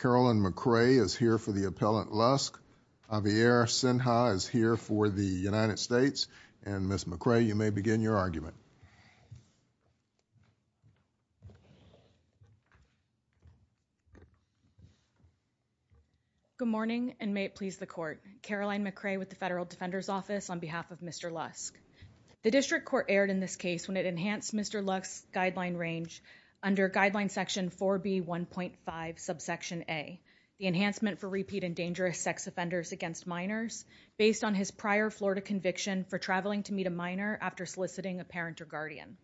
Carolyn McRae is here for the appellant Lusk. Javier Sinha is here for the United States. And Ms. McRae, you may begin your argument. Good morning and may it please the court. Caroline McRae with the Federal Defender's Office on behalf of Mr. Lusk. The district court aired in this case when it enhanced Mr. Lusk's guideline range under guideline section 4b 1.5 subsection a the enhancement for repeat and dangerous sex offenders against minors based on his prior Florida conviction for traveling to meet a minor after soliciting a parent or guardian.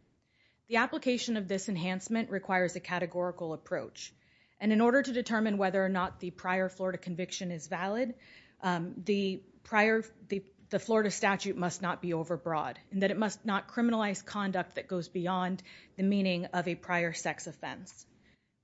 The application of this enhancement requires a categorical approach and in order to determine whether or not the prior Florida conviction is valid the prior the Florida statute must not be overbroad and that it must not criminalize conduct that goes beyond the meaning of a prior sex offense.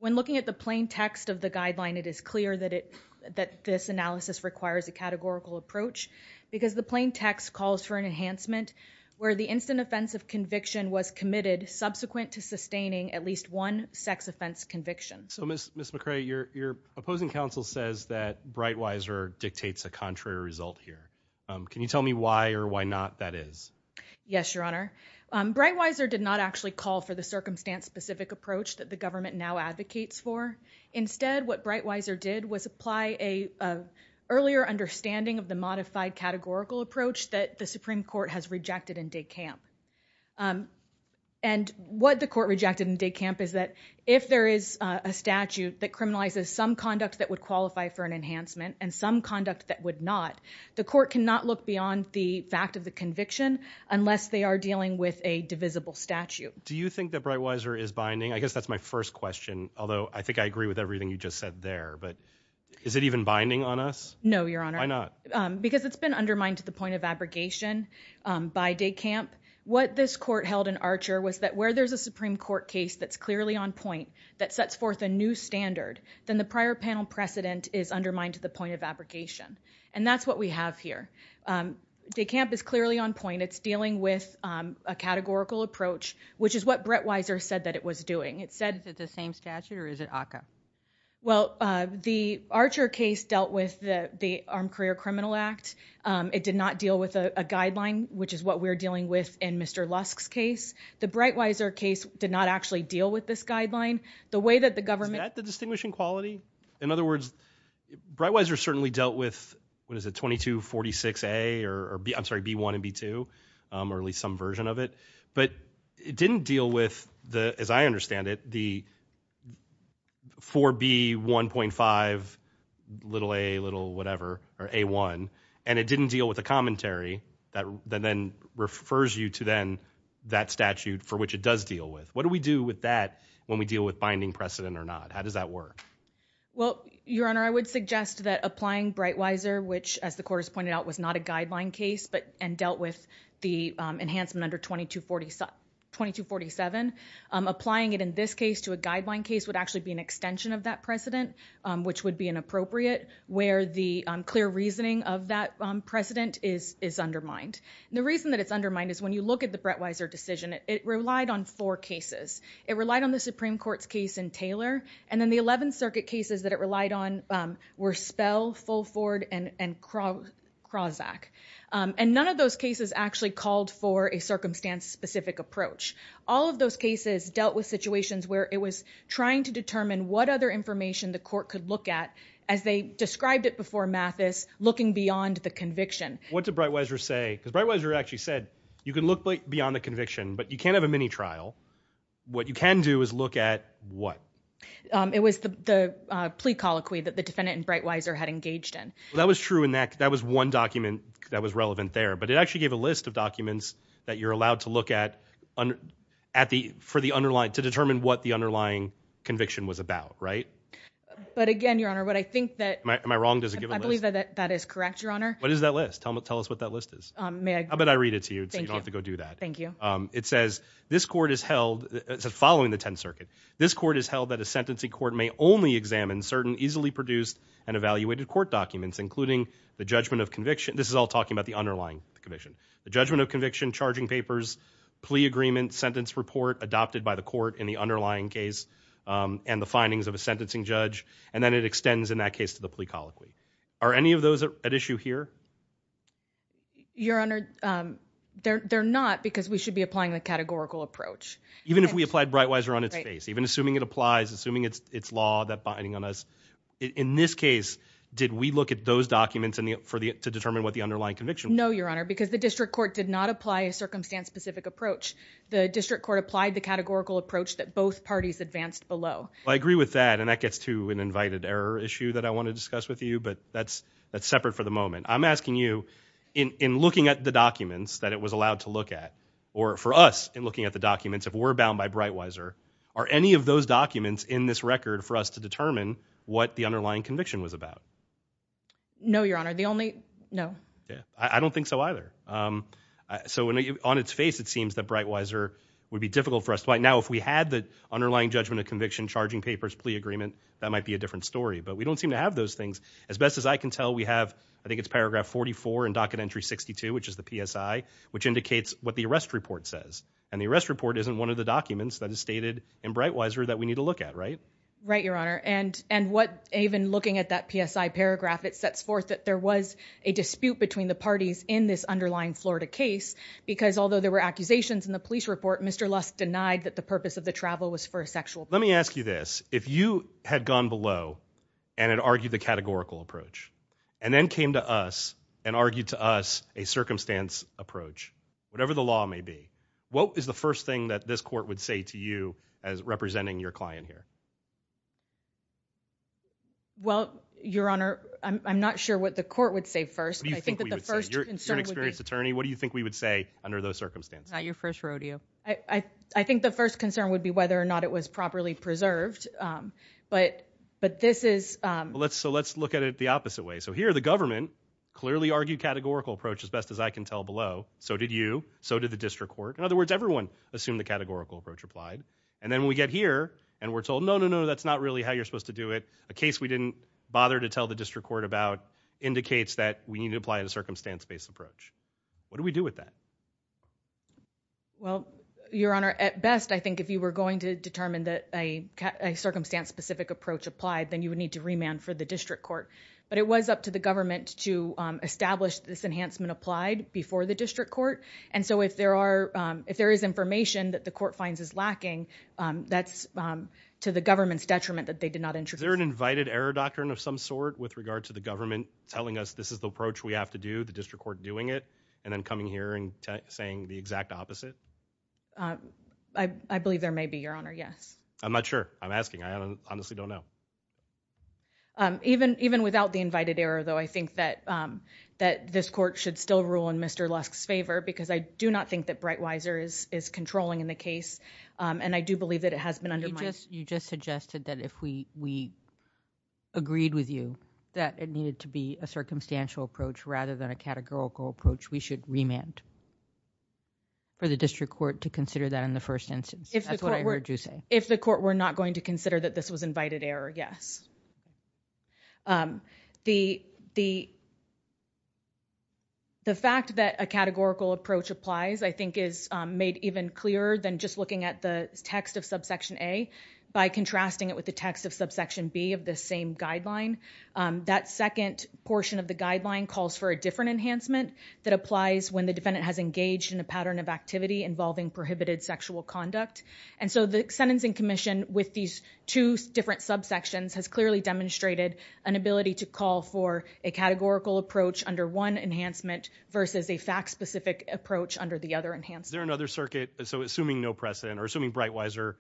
When looking at the plain text of the guideline it is clear that it that this analysis requires a categorical approach because the plain text calls for an enhancement where the instant offense of conviction was committed subsequent to sustaining at least one sex offense conviction. So Ms. McRae, your opposing counsel says that Bright-Weiser dictates a contrary result here. Can you tell me why or why not that is? Yes, Your for the circumstance-specific approach that the government now advocates for. Instead what Bright-Weiser did was apply a earlier understanding of the modified categorical approach that the Supreme Court has rejected in DeKalb and what the court rejected in DeKalb is that if there is a statute that criminalizes some conduct that would qualify for an enhancement and some conduct that would not the court cannot look beyond the fact of the conviction unless they are Do you think that Bright-Weiser is binding? I guess that's my first question although I think I agree with everything you just said there but is it even binding on us? No, Your Honor. Why not? Because it's been undermined to the point of abrogation by DeKalb. What this court held in Archer was that where there's a Supreme Court case that's clearly on point that sets forth a new standard then the prior panel precedent is undermined to the point of abrogation and that's what we have here. DeKalb is clearly on point. It's dealing with a categorical approach which is what Bright-Weiser said that it was doing. It said that the same statute or is it ACCA? Well, the Archer case dealt with the Armed Career Criminal Act. It did not deal with a guideline which is what we're dealing with in Mr. Lusk's case. The Bright-Weiser case did not actually deal with this guideline. The way that the government... Is that the distinguishing quality? In other words, Bright-Weiser certainly dealt with what is it 2246A or I'm sorry B1 and B2 or at least some version of it but it didn't deal with the as I understand it the 4B 1.5 little a little whatever or A1 and it didn't deal with a commentary that then refers you to then that statute for which it does deal with. What do we do with that when we deal with binding precedent or not? How does that work? Well, Your Honor, I would suggest that applying Bright-Weiser which as the enhancement under 2247, applying it in this case to a guideline case would actually be an extension of that precedent which would be inappropriate where the clear reasoning of that precedent is is undermined. The reason that it's undermined is when you look at the Bright-Weiser decision, it relied on four cases. It relied on the Supreme Court's case in Taylor and then the 11th Circuit cases that it relied on were Spell, Fulford, and Krawczak and none of those cases actually called for a circumstance-specific approach. All of those cases dealt with situations where it was trying to determine what other information the court could look at as they described it before Mathis looking beyond the conviction. What did Bright-Weiser say? Because Bright-Weiser actually said you can look beyond the conviction but you can't have a mini trial. What you can do is look at what? It was the plea colloquy that the defendant and Bright-Weiser had engaged in. That was true in that that was one document that was relevant there but it actually gave a list of documents that you're allowed to look at for the underlying to determine what the underlying conviction was about, right? But again, Your Honor, what I think that I believe that that is correct, Your Honor. What is that list? Tell us what that list is. How about I read it to you so you don't have to go do that. Thank you. It says this court is held, following the 10th Circuit, this court is held that a sentencing court may only examine certain easily produced and this is all talking about the underlying conviction. The judgment of conviction, charging papers, plea agreement, sentence report adopted by the court in the underlying case and the findings of a sentencing judge and then it extends in that case to the plea colloquy. Are any of those at issue here? Your Honor, they're not because we should be applying the categorical approach. Even if we applied Bright-Weiser on its face, even assuming it applies, assuming it's law that binding on us. In this case, did we look at those the underlying conviction? No, Your Honor, because the district court did not apply a circumstance-specific approach. The district court applied the categorical approach that both parties advanced below. I agree with that and that gets to an invited error issue that I want to discuss with you, but that's that's separate for the moment. I'm asking you, in looking at the documents that it was allowed to look at, or for us in looking at the documents, if we're bound by Bright-Weiser, are any of those documents in this record for us to determine what the underlying conviction was about? No, Your Honor, the only, no. Yeah, I don't think so either. So, on its face, it seems that Bright-Weiser would be difficult for us. Right now, if we had the underlying judgment of conviction, charging papers, plea agreement, that might be a different story, but we don't seem to have those things. As best as I can tell, we have, I think it's paragraph 44 and docket entry 62, which is the PSI, which indicates what the arrest report says and the arrest report isn't one of the documents that is stated in Even looking at that PSI paragraph, it sets forth that there was a dispute between the parties in this underlying Florida case, because although there were accusations in the police report, Mr. Lusk denied that the purpose of the travel was for a sexual purpose. Let me ask you this, if you had gone below and had argued the categorical approach, and then came to us and argued to us a circumstance approach, whatever the law may be, what is the first thing that this Well, your honor, I'm not sure what the court would say first, but I think that the first concern would be... You're an experienced attorney, what do you think we would say under those circumstances? Not your first rodeo. I think the first concern would be whether or not it was properly preserved, but this is... So let's look at it the opposite way. So here, the government clearly argued categorical approach, as best as I can tell below. So did you, so did the district court. In other words, everyone assumed the categorical approach applied, and then we get here and we're told, no, no, no, that's not really how you're supposed to do it. A case we didn't bother to tell the district court about indicates that we need to apply the circumstance-based approach. What do we do with that? Well, your honor, at best, I think if you were going to determine that a circumstance-specific approach applied, then you would need to remand for the district court. But it was up to the government to establish this enhancement applied before the district court, and so if there are, if there is information that the court finds is lacking, that's to the government's detriment that they did not introduce. Is there an invited error doctrine of some sort with regard to the government telling us this is the approach we have to do, the district court doing it, and then coming here and saying the exact opposite? I believe there may be, your honor, yes. I'm not sure. I'm asking. I honestly don't know. Even without the invited error, though, I think that this court should still rule in Mr. Lusk's favor, because I do not think that Bright-Weiser is controlling in the case, and I do believe that it has been undermined. You just suggested that if we agreed with you that it needed to be a circumstantial approach rather than a categorical approach, we should remand for the district court to consider that in the first instance. If the court were not going to consider that this was invited error, yes. The fact that a the text of subsection A by contrasting it with the text of subsection B of the same guideline, that second portion of the guideline calls for a different enhancement that applies when the defendant has engaged in a pattern of activity involving prohibited sexual conduct, and so the sentencing commission with these two different subsections has clearly demonstrated an ability to call for a categorical approach under one enhancement versus a fact-specific approach under the other enhancement. Is there another circuit, so assuming no precedent, or assuming Bright-Weiser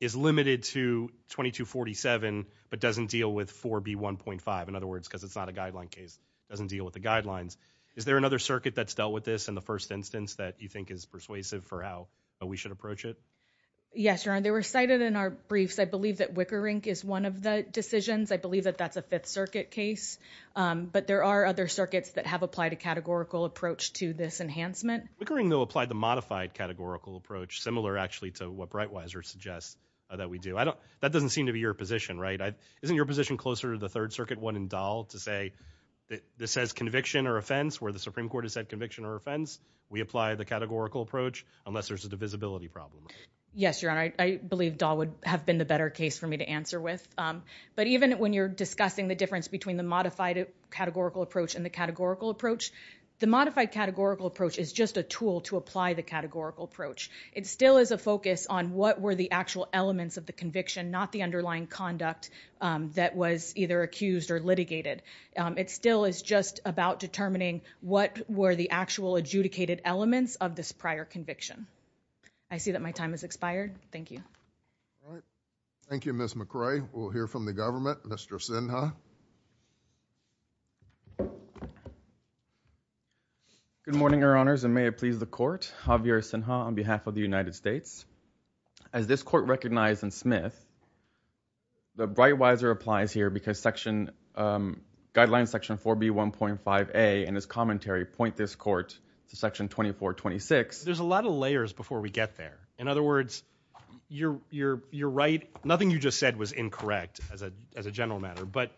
is limited to 2247 but doesn't deal with 4B 1.5, in other words, because it's not a guideline case, doesn't deal with the guidelines, is there another circuit that's dealt with this in the first instance that you think is persuasive for how we should approach it? Yes, Your Honor, they were cited in our briefs. I believe that Wickerink is one of the decisions. I believe that that's a Fifth Circuit case, but there are other Wickerink, though, applied the modified categorical approach similar actually to what Bright-Weiser suggests that we do. I don't, that doesn't seem to be your position, right? Isn't your position closer to the Third Circuit one in Dahl to say that this says conviction or offense where the Supreme Court has said conviction or offense, we apply the categorical approach unless there's a divisibility problem? Yes, Your Honor, I believe Dahl would have been the better case for me to answer with, but even when you're discussing the difference between the modified categorical approach and the categorical approach, the modified categorical approach is just a tool to apply the categorical approach. It still is a focus on what were the actual elements of the conviction, not the underlying conduct that was either accused or litigated. It still is just about determining what were the actual adjudicated elements of this prior conviction. I see that my time has expired. Thank you. All right, thank you, Ms. McCrae. We'll hear from the government. Mr. Sinha. Good morning, Your Honors, and may it please the Court. Javier Sinha on behalf of the United States. As this Court recognized in Smith, the Bright-Weiser applies here because section, Guidelines Section 4B 1.5a and its commentary point this Court to Section 2426. There's a lot of layers before we get there. In other words, you're right. Nothing you just said was incorrect as a general matter, but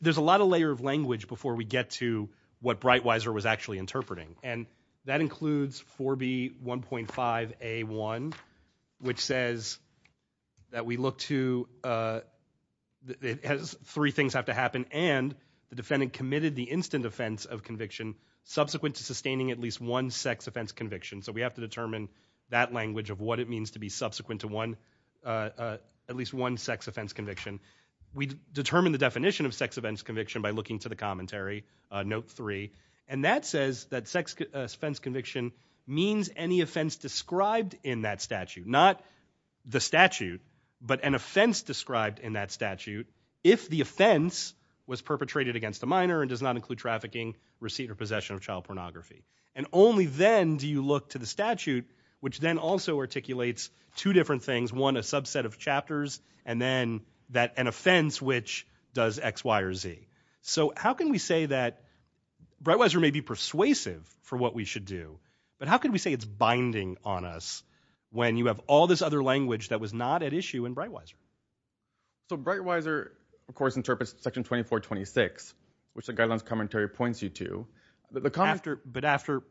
there's a lot of layer of language before we get to what Bright-Weiser was actually interpreting, and that includes 4B 1.5a1, which says that we look to, three things have to happen, and the defendant committed the instant offense of conviction subsequent to sustaining at least one sex offense conviction. So we have to determine that language of what it means to be subsequent to one, at least one sex offense conviction. We determine the definition of sex offense conviction by looking to the commentary, Note 3, and that says that sex offense conviction means any offense described in that statute, not the statute, but an offense described in that statute if the offense was perpetrated against a minor and does not include trafficking, receipt, or So how can we say that Bright-Weiser may be persuasive for what we should do, but how can we say it's binding on us when you have all this other language that was not at issue in Bright-Weiser? So Bright-Weiser, of course, interprets Section 2426, which the guidelines commentary points you to. But after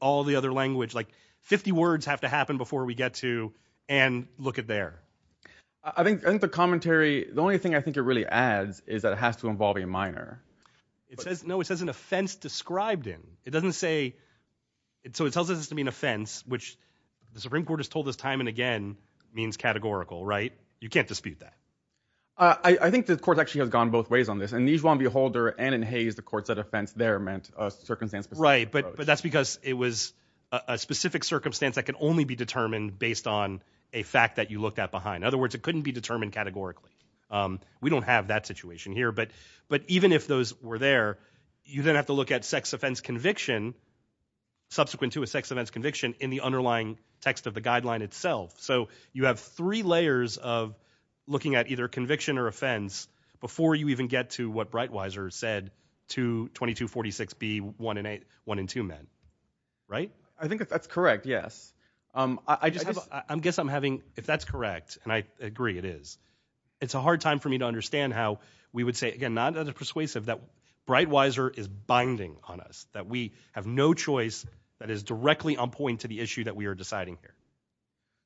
all the other language, like 50 words have to happen before we get to, and look at there. I think the commentary, the only thing I think it really adds is that it has to involve a minor. It says, no, it says an offense described in. It doesn't say, so it tells us to mean offense, which the Supreme Court has told us time and again means categorical, right? You can't dispute that. I think the court actually has gone both ways on this. In Nijuan v. Holder and in Hayes, the court said offense there meant a circumstance. Right, but that's because it was a specific circumstance that can only be determined based on a fact that you looked at behind. In other words, it couldn't be determined categorically. We don't have that situation here, but even if those were there, you then have to look at sex offense conviction, subsequent to a sex offense conviction in the underlying text of the guideline itself. So you have three layers of looking at either conviction or offense before you even get to what Breitweiser said to 2246B, one in two men, right? I think that's correct, yes. I guess I'm having, if that's correct, and I agree it is, it's a hard time for me to understand how we would say, again, not as a persuasive, that Breitweiser is binding on us. That we have no choice that is directly on point to the issue that we are deciding here.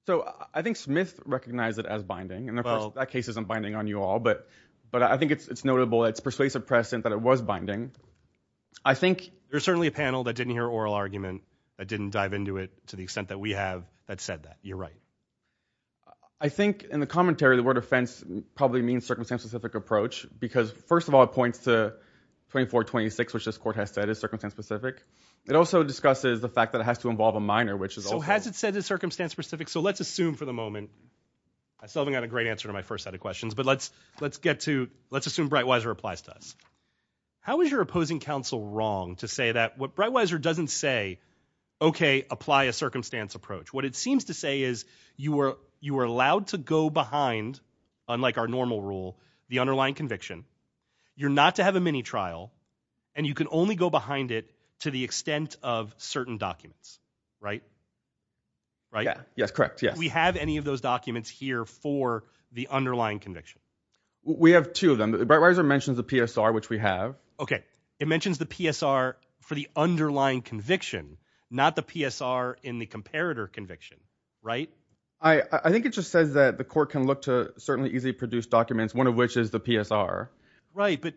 So I think Smith recognized it as binding, and of course that case isn't binding on you all, but I think it's notable, it's persuasive precedent that it was binding. There's certainly a panel that didn't hear oral argument, that didn't dive into it to the extent that we have, that said that. You're right. I think in the commentary, the word offense probably means circumstance-specific approach, because first of all, it points to 2426, which this court has said is circumstance-specific. It also discusses the fact that it has to involve a minor, which is okay. So has it said is circumstance-specific, so let's assume for the moment, I still haven't got a great answer to my first set of questions, but let's assume Breitweiser applies to us. How is your opposing counsel wrong to say that what Breitweiser doesn't say, okay, apply a circumstance approach. What it seems to say is you are allowed to go behind, unlike our normal rule, the underlying conviction. You're not to have a mini-trial, and you can only go behind it to the extent of certain documents, right? Yes, correct, yes. Do we have any of those documents here for the underlying conviction? We have two of them. Breitweiser mentions the PSR, which we have. Okay, it mentions the PSR for the underlying conviction, not the PSR in the comparator conviction, right? I think it just says that the court can look to certainly easily produce documents, one of which is the PSR. Right, but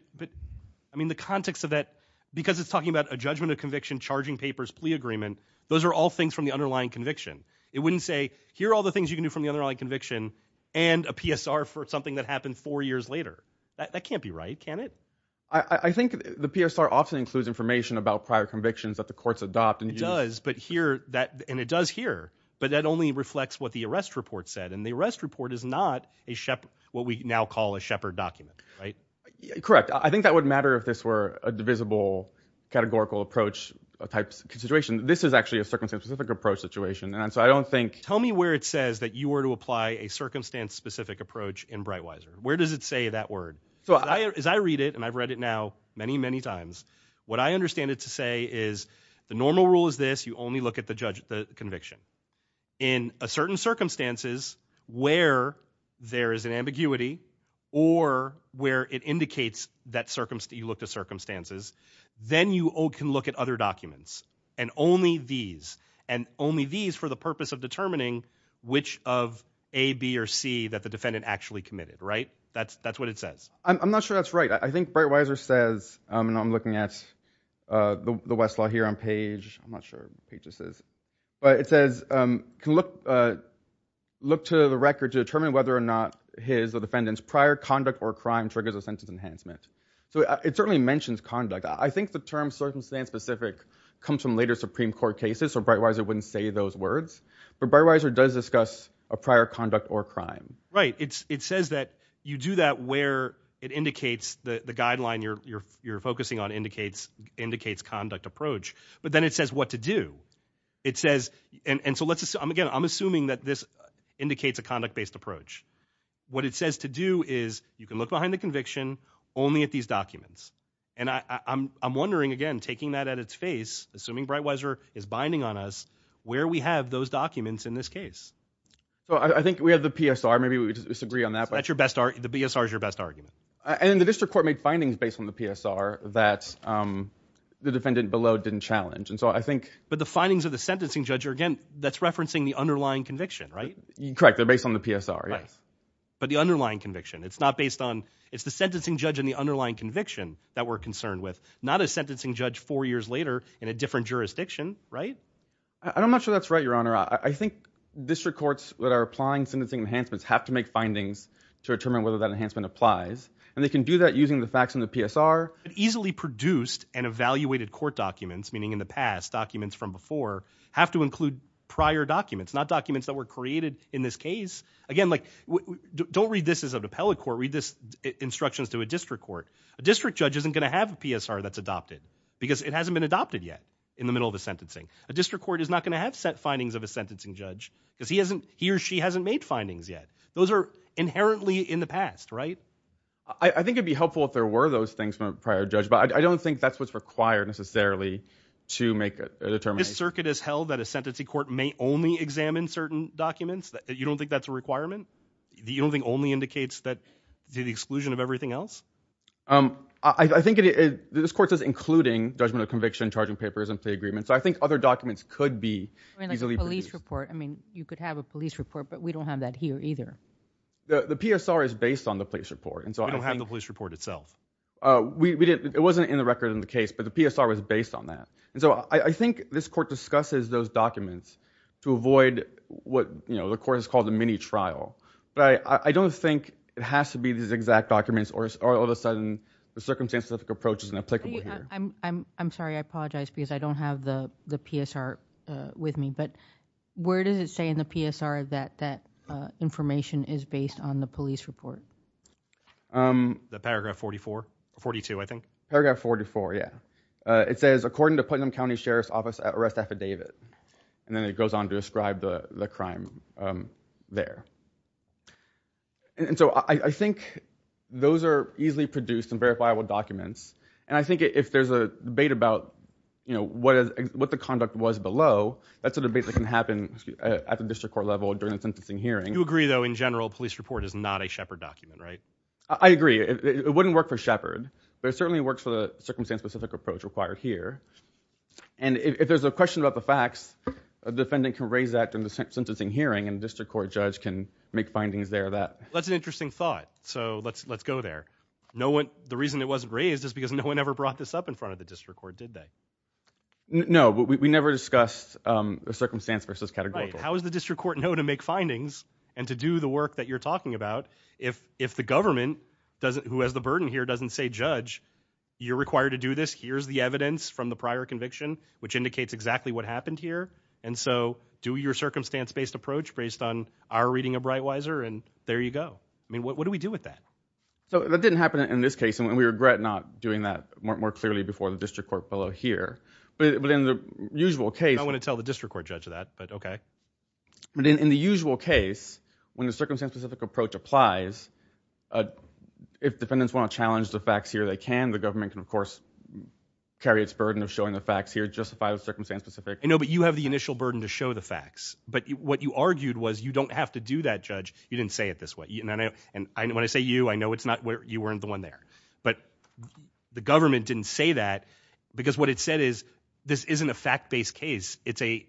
I mean the context of that, because it's talking about a judgment of conviction, charging papers, plea agreement, those are all things from the underlying conviction. It wouldn't say here are all the things you can do from the underlying conviction and a PSR for something that happened four years later. That can't be right, can it? I think the PSR often includes information about prior convictions that the courts adopt. It does, and it does here, but that only reflects what the arrest report said, and the arrest report is not what we now call a Shepard document, right? Correct. I think that would matter if this were a divisible categorical approach type situation. This is actually a circumstance-specific approach situation, and so I don't think – Tell me where it says that you were to apply a circumstance-specific approach in Breitweiser. Where does it say that word? As I read it, and I've read it now many, many times, what I understand it to say is the normal rule is this, you only look at the conviction. In certain circumstances where there is an ambiguity or where it indicates that you looked at circumstances, then you can look at other documents, and only these. And only these for the purpose of determining which of A, B, or C that the defendant actually committed, right? That's what it says. I'm not sure that's right. I think Breitweiser says, and I'm looking at the Westlaw here on page – I'm not sure what page this is – but it says, look to the record to determine whether or not his or the defendant's prior conduct or crime triggers a sentence enhancement. So it certainly mentions conduct. I think the term circumstance-specific comes from later Supreme Court cases, so Breitweiser wouldn't say those words, but Breitweiser does discuss a prior conduct or crime. Right. It says that you do that where it indicates the guideline you're focusing on indicates conduct approach. But then it says what to do. It says – and so, again, I'm assuming that this indicates a conduct-based approach. What it says to do is you can look behind the conviction only at these documents. And I'm wondering, again, taking that at its face, assuming Breitweiser is binding on us, where we have those documents in this case. So I think we have the PSR. Maybe we disagree on that. That's your best – the PSR is your best argument. And the district court made findings based on the PSR that the defendant below didn't challenge. And so I think – But the findings of the sentencing judge are, again, that's referencing the underlying conviction, right? Correct. They're based on the PSR, yes. Right. But the underlying conviction, it's not based on – it's the sentencing judge and the underlying conviction that we're concerned with, not a sentencing judge four years later in a different jurisdiction, right? I'm not sure that's right, Your Honor. I think district courts that are applying sentencing enhancements have to make findings to determine whether that enhancement applies. And they can do that using the facts in the PSR. Easily produced and evaluated court documents, meaning in the past documents from before, have to include prior documents, not documents that were created in this case. Again, like, don't read this as a appellate court. Read this instructions to a district court. A district judge isn't going to have a PSR that's adopted because it hasn't been adopted yet in the middle of the sentencing. A district court is not going to have set findings of a sentencing judge because he or she hasn't made findings yet. Those are inherently in the past, right? I think it would be helpful if there were those things from a prior judge, but I don't think that's what's required, necessarily, to make a determination. This circuit has held that a sentencing court may only examine certain documents? You don't think that's a requirement? You don't think only indicates the exclusion of everything else? I think this court does including judgment of conviction, charging papers, and plea agreements. I think other documents could be easily produced. You could have a police report, but we don't have that here either. The PSR is based on the police report. We don't have the police report itself. It wasn't in the record in the case, but the PSR was based on that. I think this court discusses those documents to avoid what the court has called a mini-trial, but I don't think it has to be these exact documents, or all of a sudden the circumstantial approach isn't applicable here. I'm sorry, I apologize because I don't have the PSR with me, but where does it say in the PSR that that information is based on the police report? Paragraph 42, I think. Paragraph 44, yeah. It says, according to Putnam County Sheriff's Office arrest affidavit, and then it goes on to describe the crime there. I think those are easily produced and verifiable documents, and I think if there's a debate about what the conduct was below, that's a debate that can happen at the district court level during the sentencing hearing. You agree, though, in general, a police report is not a Shepard document, right? I agree. It wouldn't work for Shepard, but it certainly works for the circumstance-specific approach required here, and if there's a question about the facts, a defendant can raise that in the sentencing hearing, and the district court judge can make findings there. That's an interesting thought, so let's go there. The reason it wasn't raised is because no one ever brought this up in front of the district court, did they? No, but we never discussed the circumstance versus categorical. How does the district court know to make findings and to do the work that you're talking about if the government, who has the burden here, doesn't say, Judge, you're required to do this. Here's the evidence from the prior conviction, which indicates exactly what happened here, and so do your circumstance-based approach based on our reading of Breitweiser, and there you go. What do we do with that? That didn't happen in this case, and we regret not doing that more clearly before the district court fellow here, but in the usual case... I want to tell the district court judge that, but okay. But in the usual case, when the circumstance-specific approach applies, if defendants want to challenge the facts here, they can. The government can, of course, carry its burden of showing the facts here, justify the circumstance-specific... No, but you have the initial burden to show the facts, but what you argued was you don't have to do that, Judge. You didn't say it this way. When I say you, I know you weren't the one there, but the government didn't say that because what it said is this isn't a fact-based case. It's a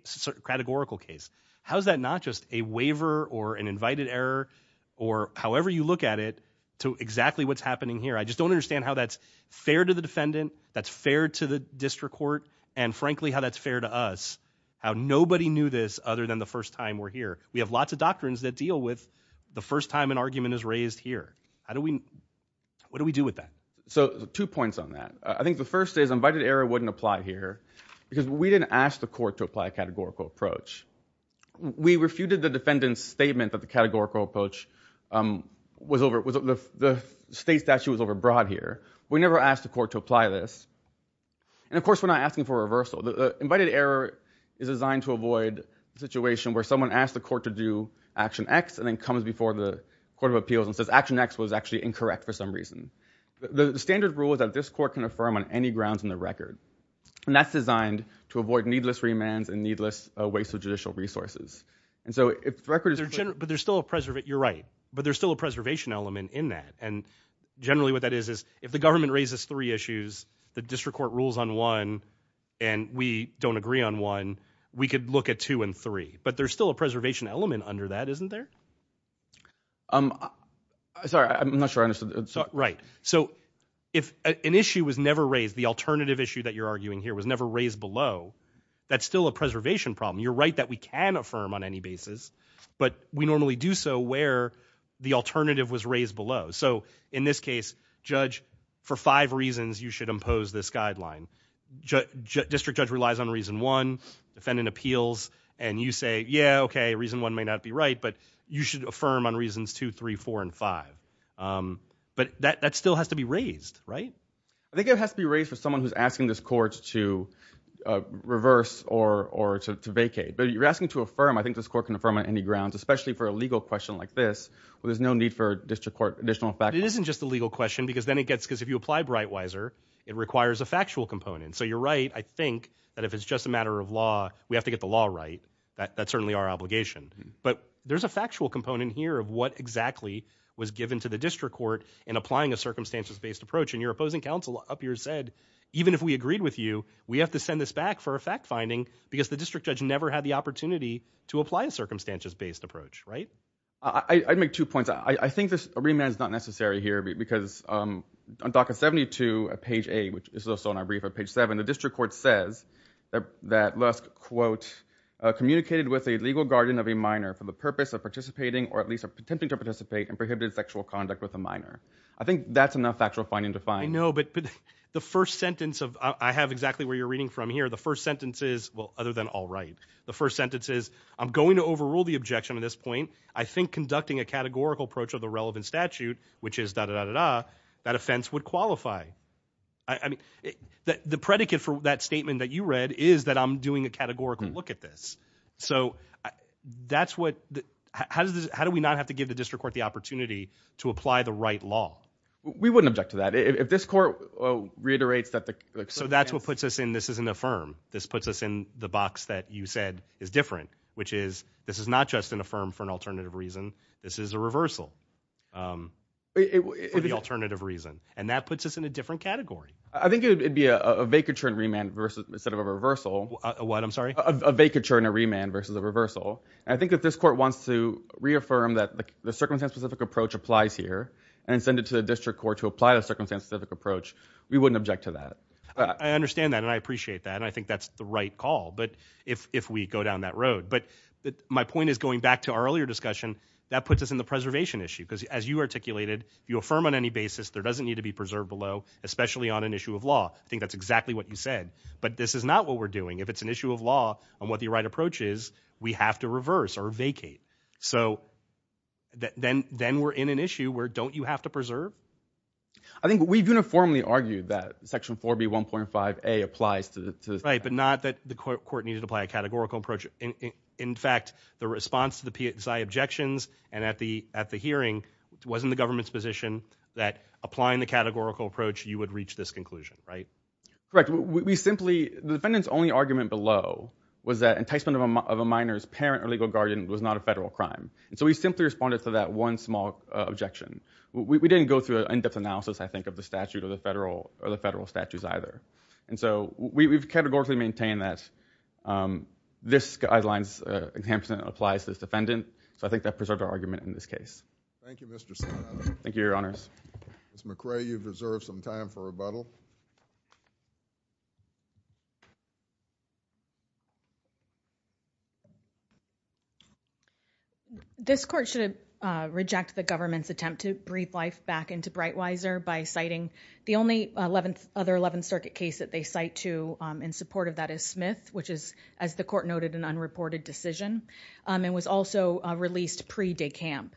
categorical case. How is that not just a waiver or an invited error or however you look at it to exactly what's happening here? I just don't understand how that's fair to the defendant, that's fair to the district court, and frankly, how that's fair to us, how nobody knew this other than the first time we're here. We have lots of doctrines that deal with the first time an argument is raised here. How do we... what do we do with that? So, two points on that. I think the first is invited error wouldn't apply here because we didn't ask the court to apply a categorical approach. We refuted the defendant's statement that the categorical approach was over... the state statute was overbroad here. We never asked the court to apply this. And, of course, we're not asking for a reversal. The invited error is designed to avoid a situation where someone asks the court to do action X and then comes before the court of appeals and says action X was actually incorrect for some reason. The standard rule is that this court can affirm on any grounds in the record, and that's designed to avoid needless remands and needless waste of judicial resources. And so if the record is... But there's still a... you're right, but there's still a preservation element in that, and generally what that is is if the government raises three issues, the district court rules on one, and we don't agree on one, we could look at two and three. But there's still a preservation element under that, isn't there? Sorry, I'm not sure I understood. Right. So if an issue was never raised, the alternative issue that you're arguing here was never raised below, that's still a preservation problem. You're right that we can affirm on any basis, but we normally do so where the alternative was raised below. So in this case, judge, for five reasons, you should impose this guideline. District judge relies on reason one. Defendant appeals, and you say, yeah, okay, reason one may not be right, but you should affirm on reasons two, three, four, and five. But that still has to be raised, right? I think it has to be raised for someone who's asking this court to reverse or to vacate. But if you're asking to affirm, I think this court can affirm on any grounds, especially for a legal question like this where there's no need for a district court additional... It isn't just a legal question, because then it gets... So you're right, I think that if it's just a matter of law, we have to get the law right. That's certainly our obligation. But there's a factual component here of what exactly was given to the district court in applying a circumstances-based approach. And your opposing counsel up here said, even if we agreed with you, we have to send this back for a fact-finding, because the district judge never had the opportunity to apply a circumstances-based approach, right? I'd make two points. I think this remand is not necessary here, because on docket 72, page A, which is also on our brief at page 7, the district court says that Lusk, quote, communicated with a legal guardian of a minor for the purpose of participating, or at least attempting to participate, in prohibited sexual conduct with a minor. I think that's enough factual finding to find. I know, but the first sentence of... I have exactly where you're reading from here. The first sentence is... Well, other than all right. The first sentence is, I'm going to overrule the objection at this point. I think conducting a categorical approach to the relevant statute, which is da-da-da-da-da, that offense would qualify. I mean, the predicate for that statement that you read is that I'm doing a categorical look at this. So that's what... How do we not have to give the district court the opportunity to apply the right law? We wouldn't object to that. If this court reiterates that the... So that's what puts us in this is an affirm. This puts us in the box that you said is different, which is, this is not just an affirm for an alternative reason. This is a reversal for the alternative reason. And that puts us in a different category. I think it would be a vacature and remand instead of a reversal. What? I'm sorry? A vacature and a remand versus a reversal. And I think that this court wants to reaffirm that the circumstance-specific approach applies here and send it to the district court to apply the circumstance-specific approach. We wouldn't object to that. I understand that, and I appreciate that. And I think that's the right call, if we go down that road. But my point is, going back to our earlier discussion, that puts us in the preservation issue. Because as you articulated, you affirm on any basis there doesn't need to be preserved below, especially on an issue of law. I think that's exactly what you said. But this is not what we're doing. If it's an issue of law on what the right approach is, we have to reverse or vacate. So then we're in an issue where don't you have to preserve? I think we've uniformly argued that Section 4B.1.5a applies to... Right, but not that the court needed to apply a categorical approach. In fact, the response to the PSI objections and at the hearing wasn't the government's position that applying the categorical approach you would reach this conclusion, right? Correct. We simply... The defendant's only argument below was that enticement of a minor's parent or legal guardian was not a federal crime. And so we simply responded to that one small objection. We didn't go through an in-depth analysis, I think, of the statute or the federal statutes either. And so we've categorically maintained that this guidelines enticement applies to this defendant. So I think that preserved our argument in this case. Thank you, Mr. Salano. Thank you, Your Honors. Ms. McRae, you've reserved some time for rebuttal. This court should reject the government's attempt to breathe life back into Breitweiser by citing the only other 11th Circuit case that they cite to in support of that is Smith, which is, as the court noted, an unreported decision. It was also released pre-de camp.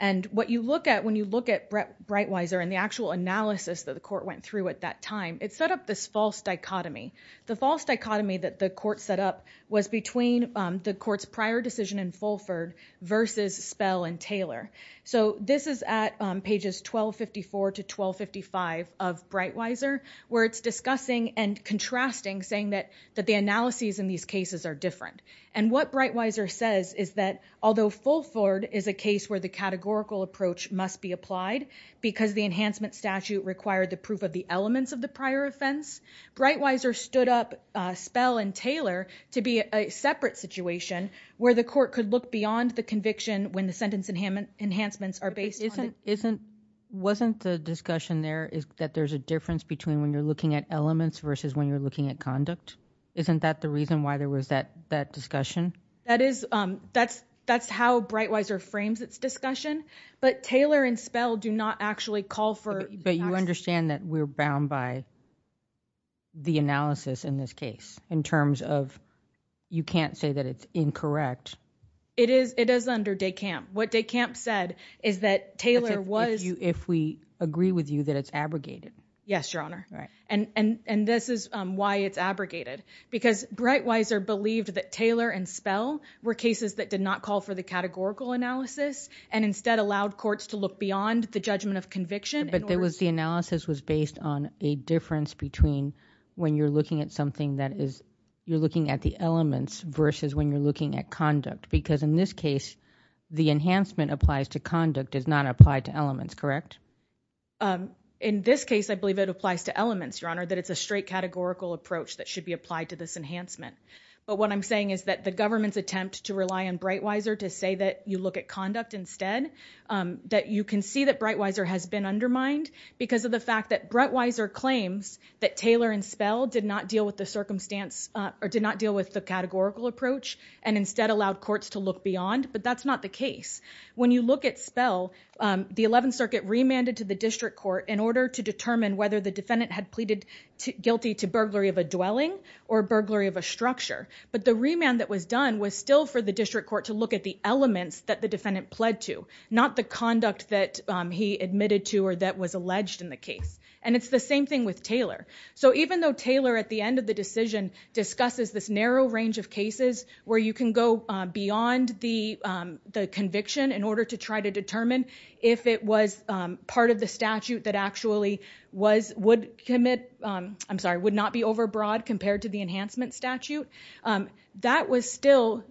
And what you look at when you look at Breitweiser and the actual analysis that the court went through at that time, it set up this false dichotomy. The false dichotomy that the court set up was between the court's prior decision in Fulford versus Spell and Taylor. So this is at pages 1254 to 1255 of Breitweiser where it's discussing and contrasting, saying that the analyses in these cases are different. And what Breitweiser says is that although Fulford is a case where the categorical approach must be applied because the enhancement statute required the proof of the elements of the prior offense, Breitweiser stood up Spell and Taylor to be a separate situation where the court could look beyond the conviction when the sentence enhancements are based on... Wasn't the difference between when you're looking at elements versus when you're looking at conduct? Isn't that the reason why there was that discussion? That's how Breitweiser frames its discussion, but Taylor and Spell do not actually call for... But you understand that we're bound by the analysis in this case in terms of you can't say that it's incorrect. It is under de camp. What de camp said is that Taylor was... Yes, Your Honor. And this is why it's abrogated. Because Breitweiser believed that Taylor and Spell were cases that did not call for the categorical analysis and instead allowed courts to look beyond the judgment of conviction. But the analysis was based on a difference between when you're looking at something that is... You're looking at the elements versus when you're looking at conduct. Because in this case the enhancement applies to conduct does not apply to elements, correct? In this case I believe it applies to elements, Your Honor, that it's a straight categorical approach that should be applied to this enhancement. But what I'm saying is that the government's attempt to rely on Breitweiser to say that you look at conduct instead, that you can see that Breitweiser has been undermined because of the fact that Breitweiser claims that Taylor and Spell did not deal with the circumstance or did not deal with the categorical approach and instead allowed courts to look beyond, but that's not the case. When you look at Spell the Eleventh Circuit remanded to the District Court in order to determine whether the defendant had pleaded guilty to burglary of a dwelling or burglary of a structure. But the remand that was done was still for the District Court to look at the elements that the defendant pled to, not the conduct that he admitted to or that was alleged in the case. And it's the same thing with Taylor. So even though Taylor at the end of the decision discusses this narrow range of cases where you can go beyond the statute in order to try to determine if it was part of the statute that actually was, would commit, I'm sorry, would not be overbroad compared to the enhancement statute, that was still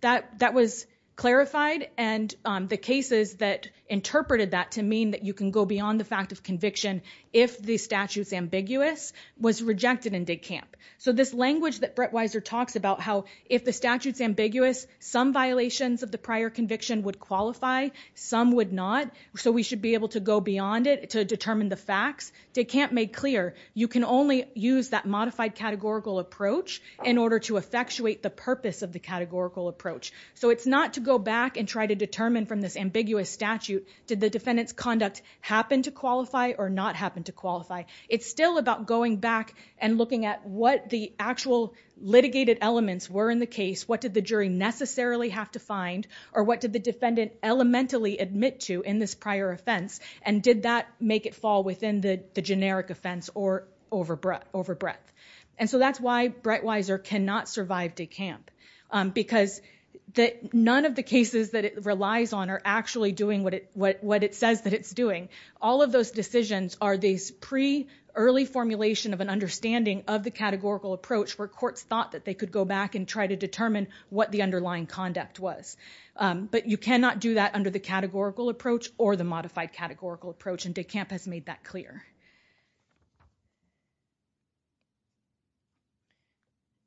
that was clarified and the cases that interpreted that to mean that you can go beyond the fact of conviction if the statute's ambiguous was rejected in Dig Camp. So this language that Breitweiser talks about how if the statute's ambiguous some violations of the prior conviction would qualify, some would not so we should be able to go beyond it to determine the facts. Dig Camp made clear you can only use that modified categorical approach in order to effectuate the purpose of the categorical approach. So it's not to go back and try to determine from this ambiguous statute did the defendant's conduct happen to qualify or not happen to qualify. It's still about going back and looking at what the actual litigated elements were in the case, what did the jury necessarily have to find or what did the defendant elementally admit to in this prior offense and did that make it fall within the generic offense or over breadth. And so that's why Breitweiser cannot survive Dig Camp because none of the cases that it relies on are actually doing what it says that it's doing. All of those decisions are these pre-early formulation of an understanding of the categorical approach where courts thought that they could go back and try to determine what the underlying conduct was. But you cannot do that under the categorical approach or the modified categorical approach and Dig Camp has made that clear.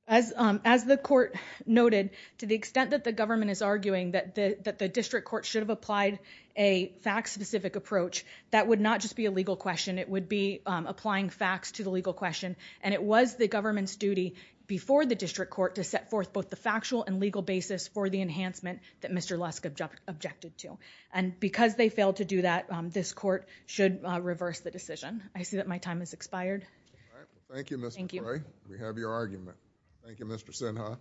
As the court noted to the extent that the government is arguing that the district court should have applied a fact specific approach that would not just be a legal question it would be applying facts to the legal question and it was the government's duty before the district court to set forth both the factual and legal basis for the enhancement that Mr. Lusk objected to. And because they failed to do that, this court should reverse the decision. I see that my time has expired. Thank you Ms. McCray. We have your argument. Thank you Mr. Sinha.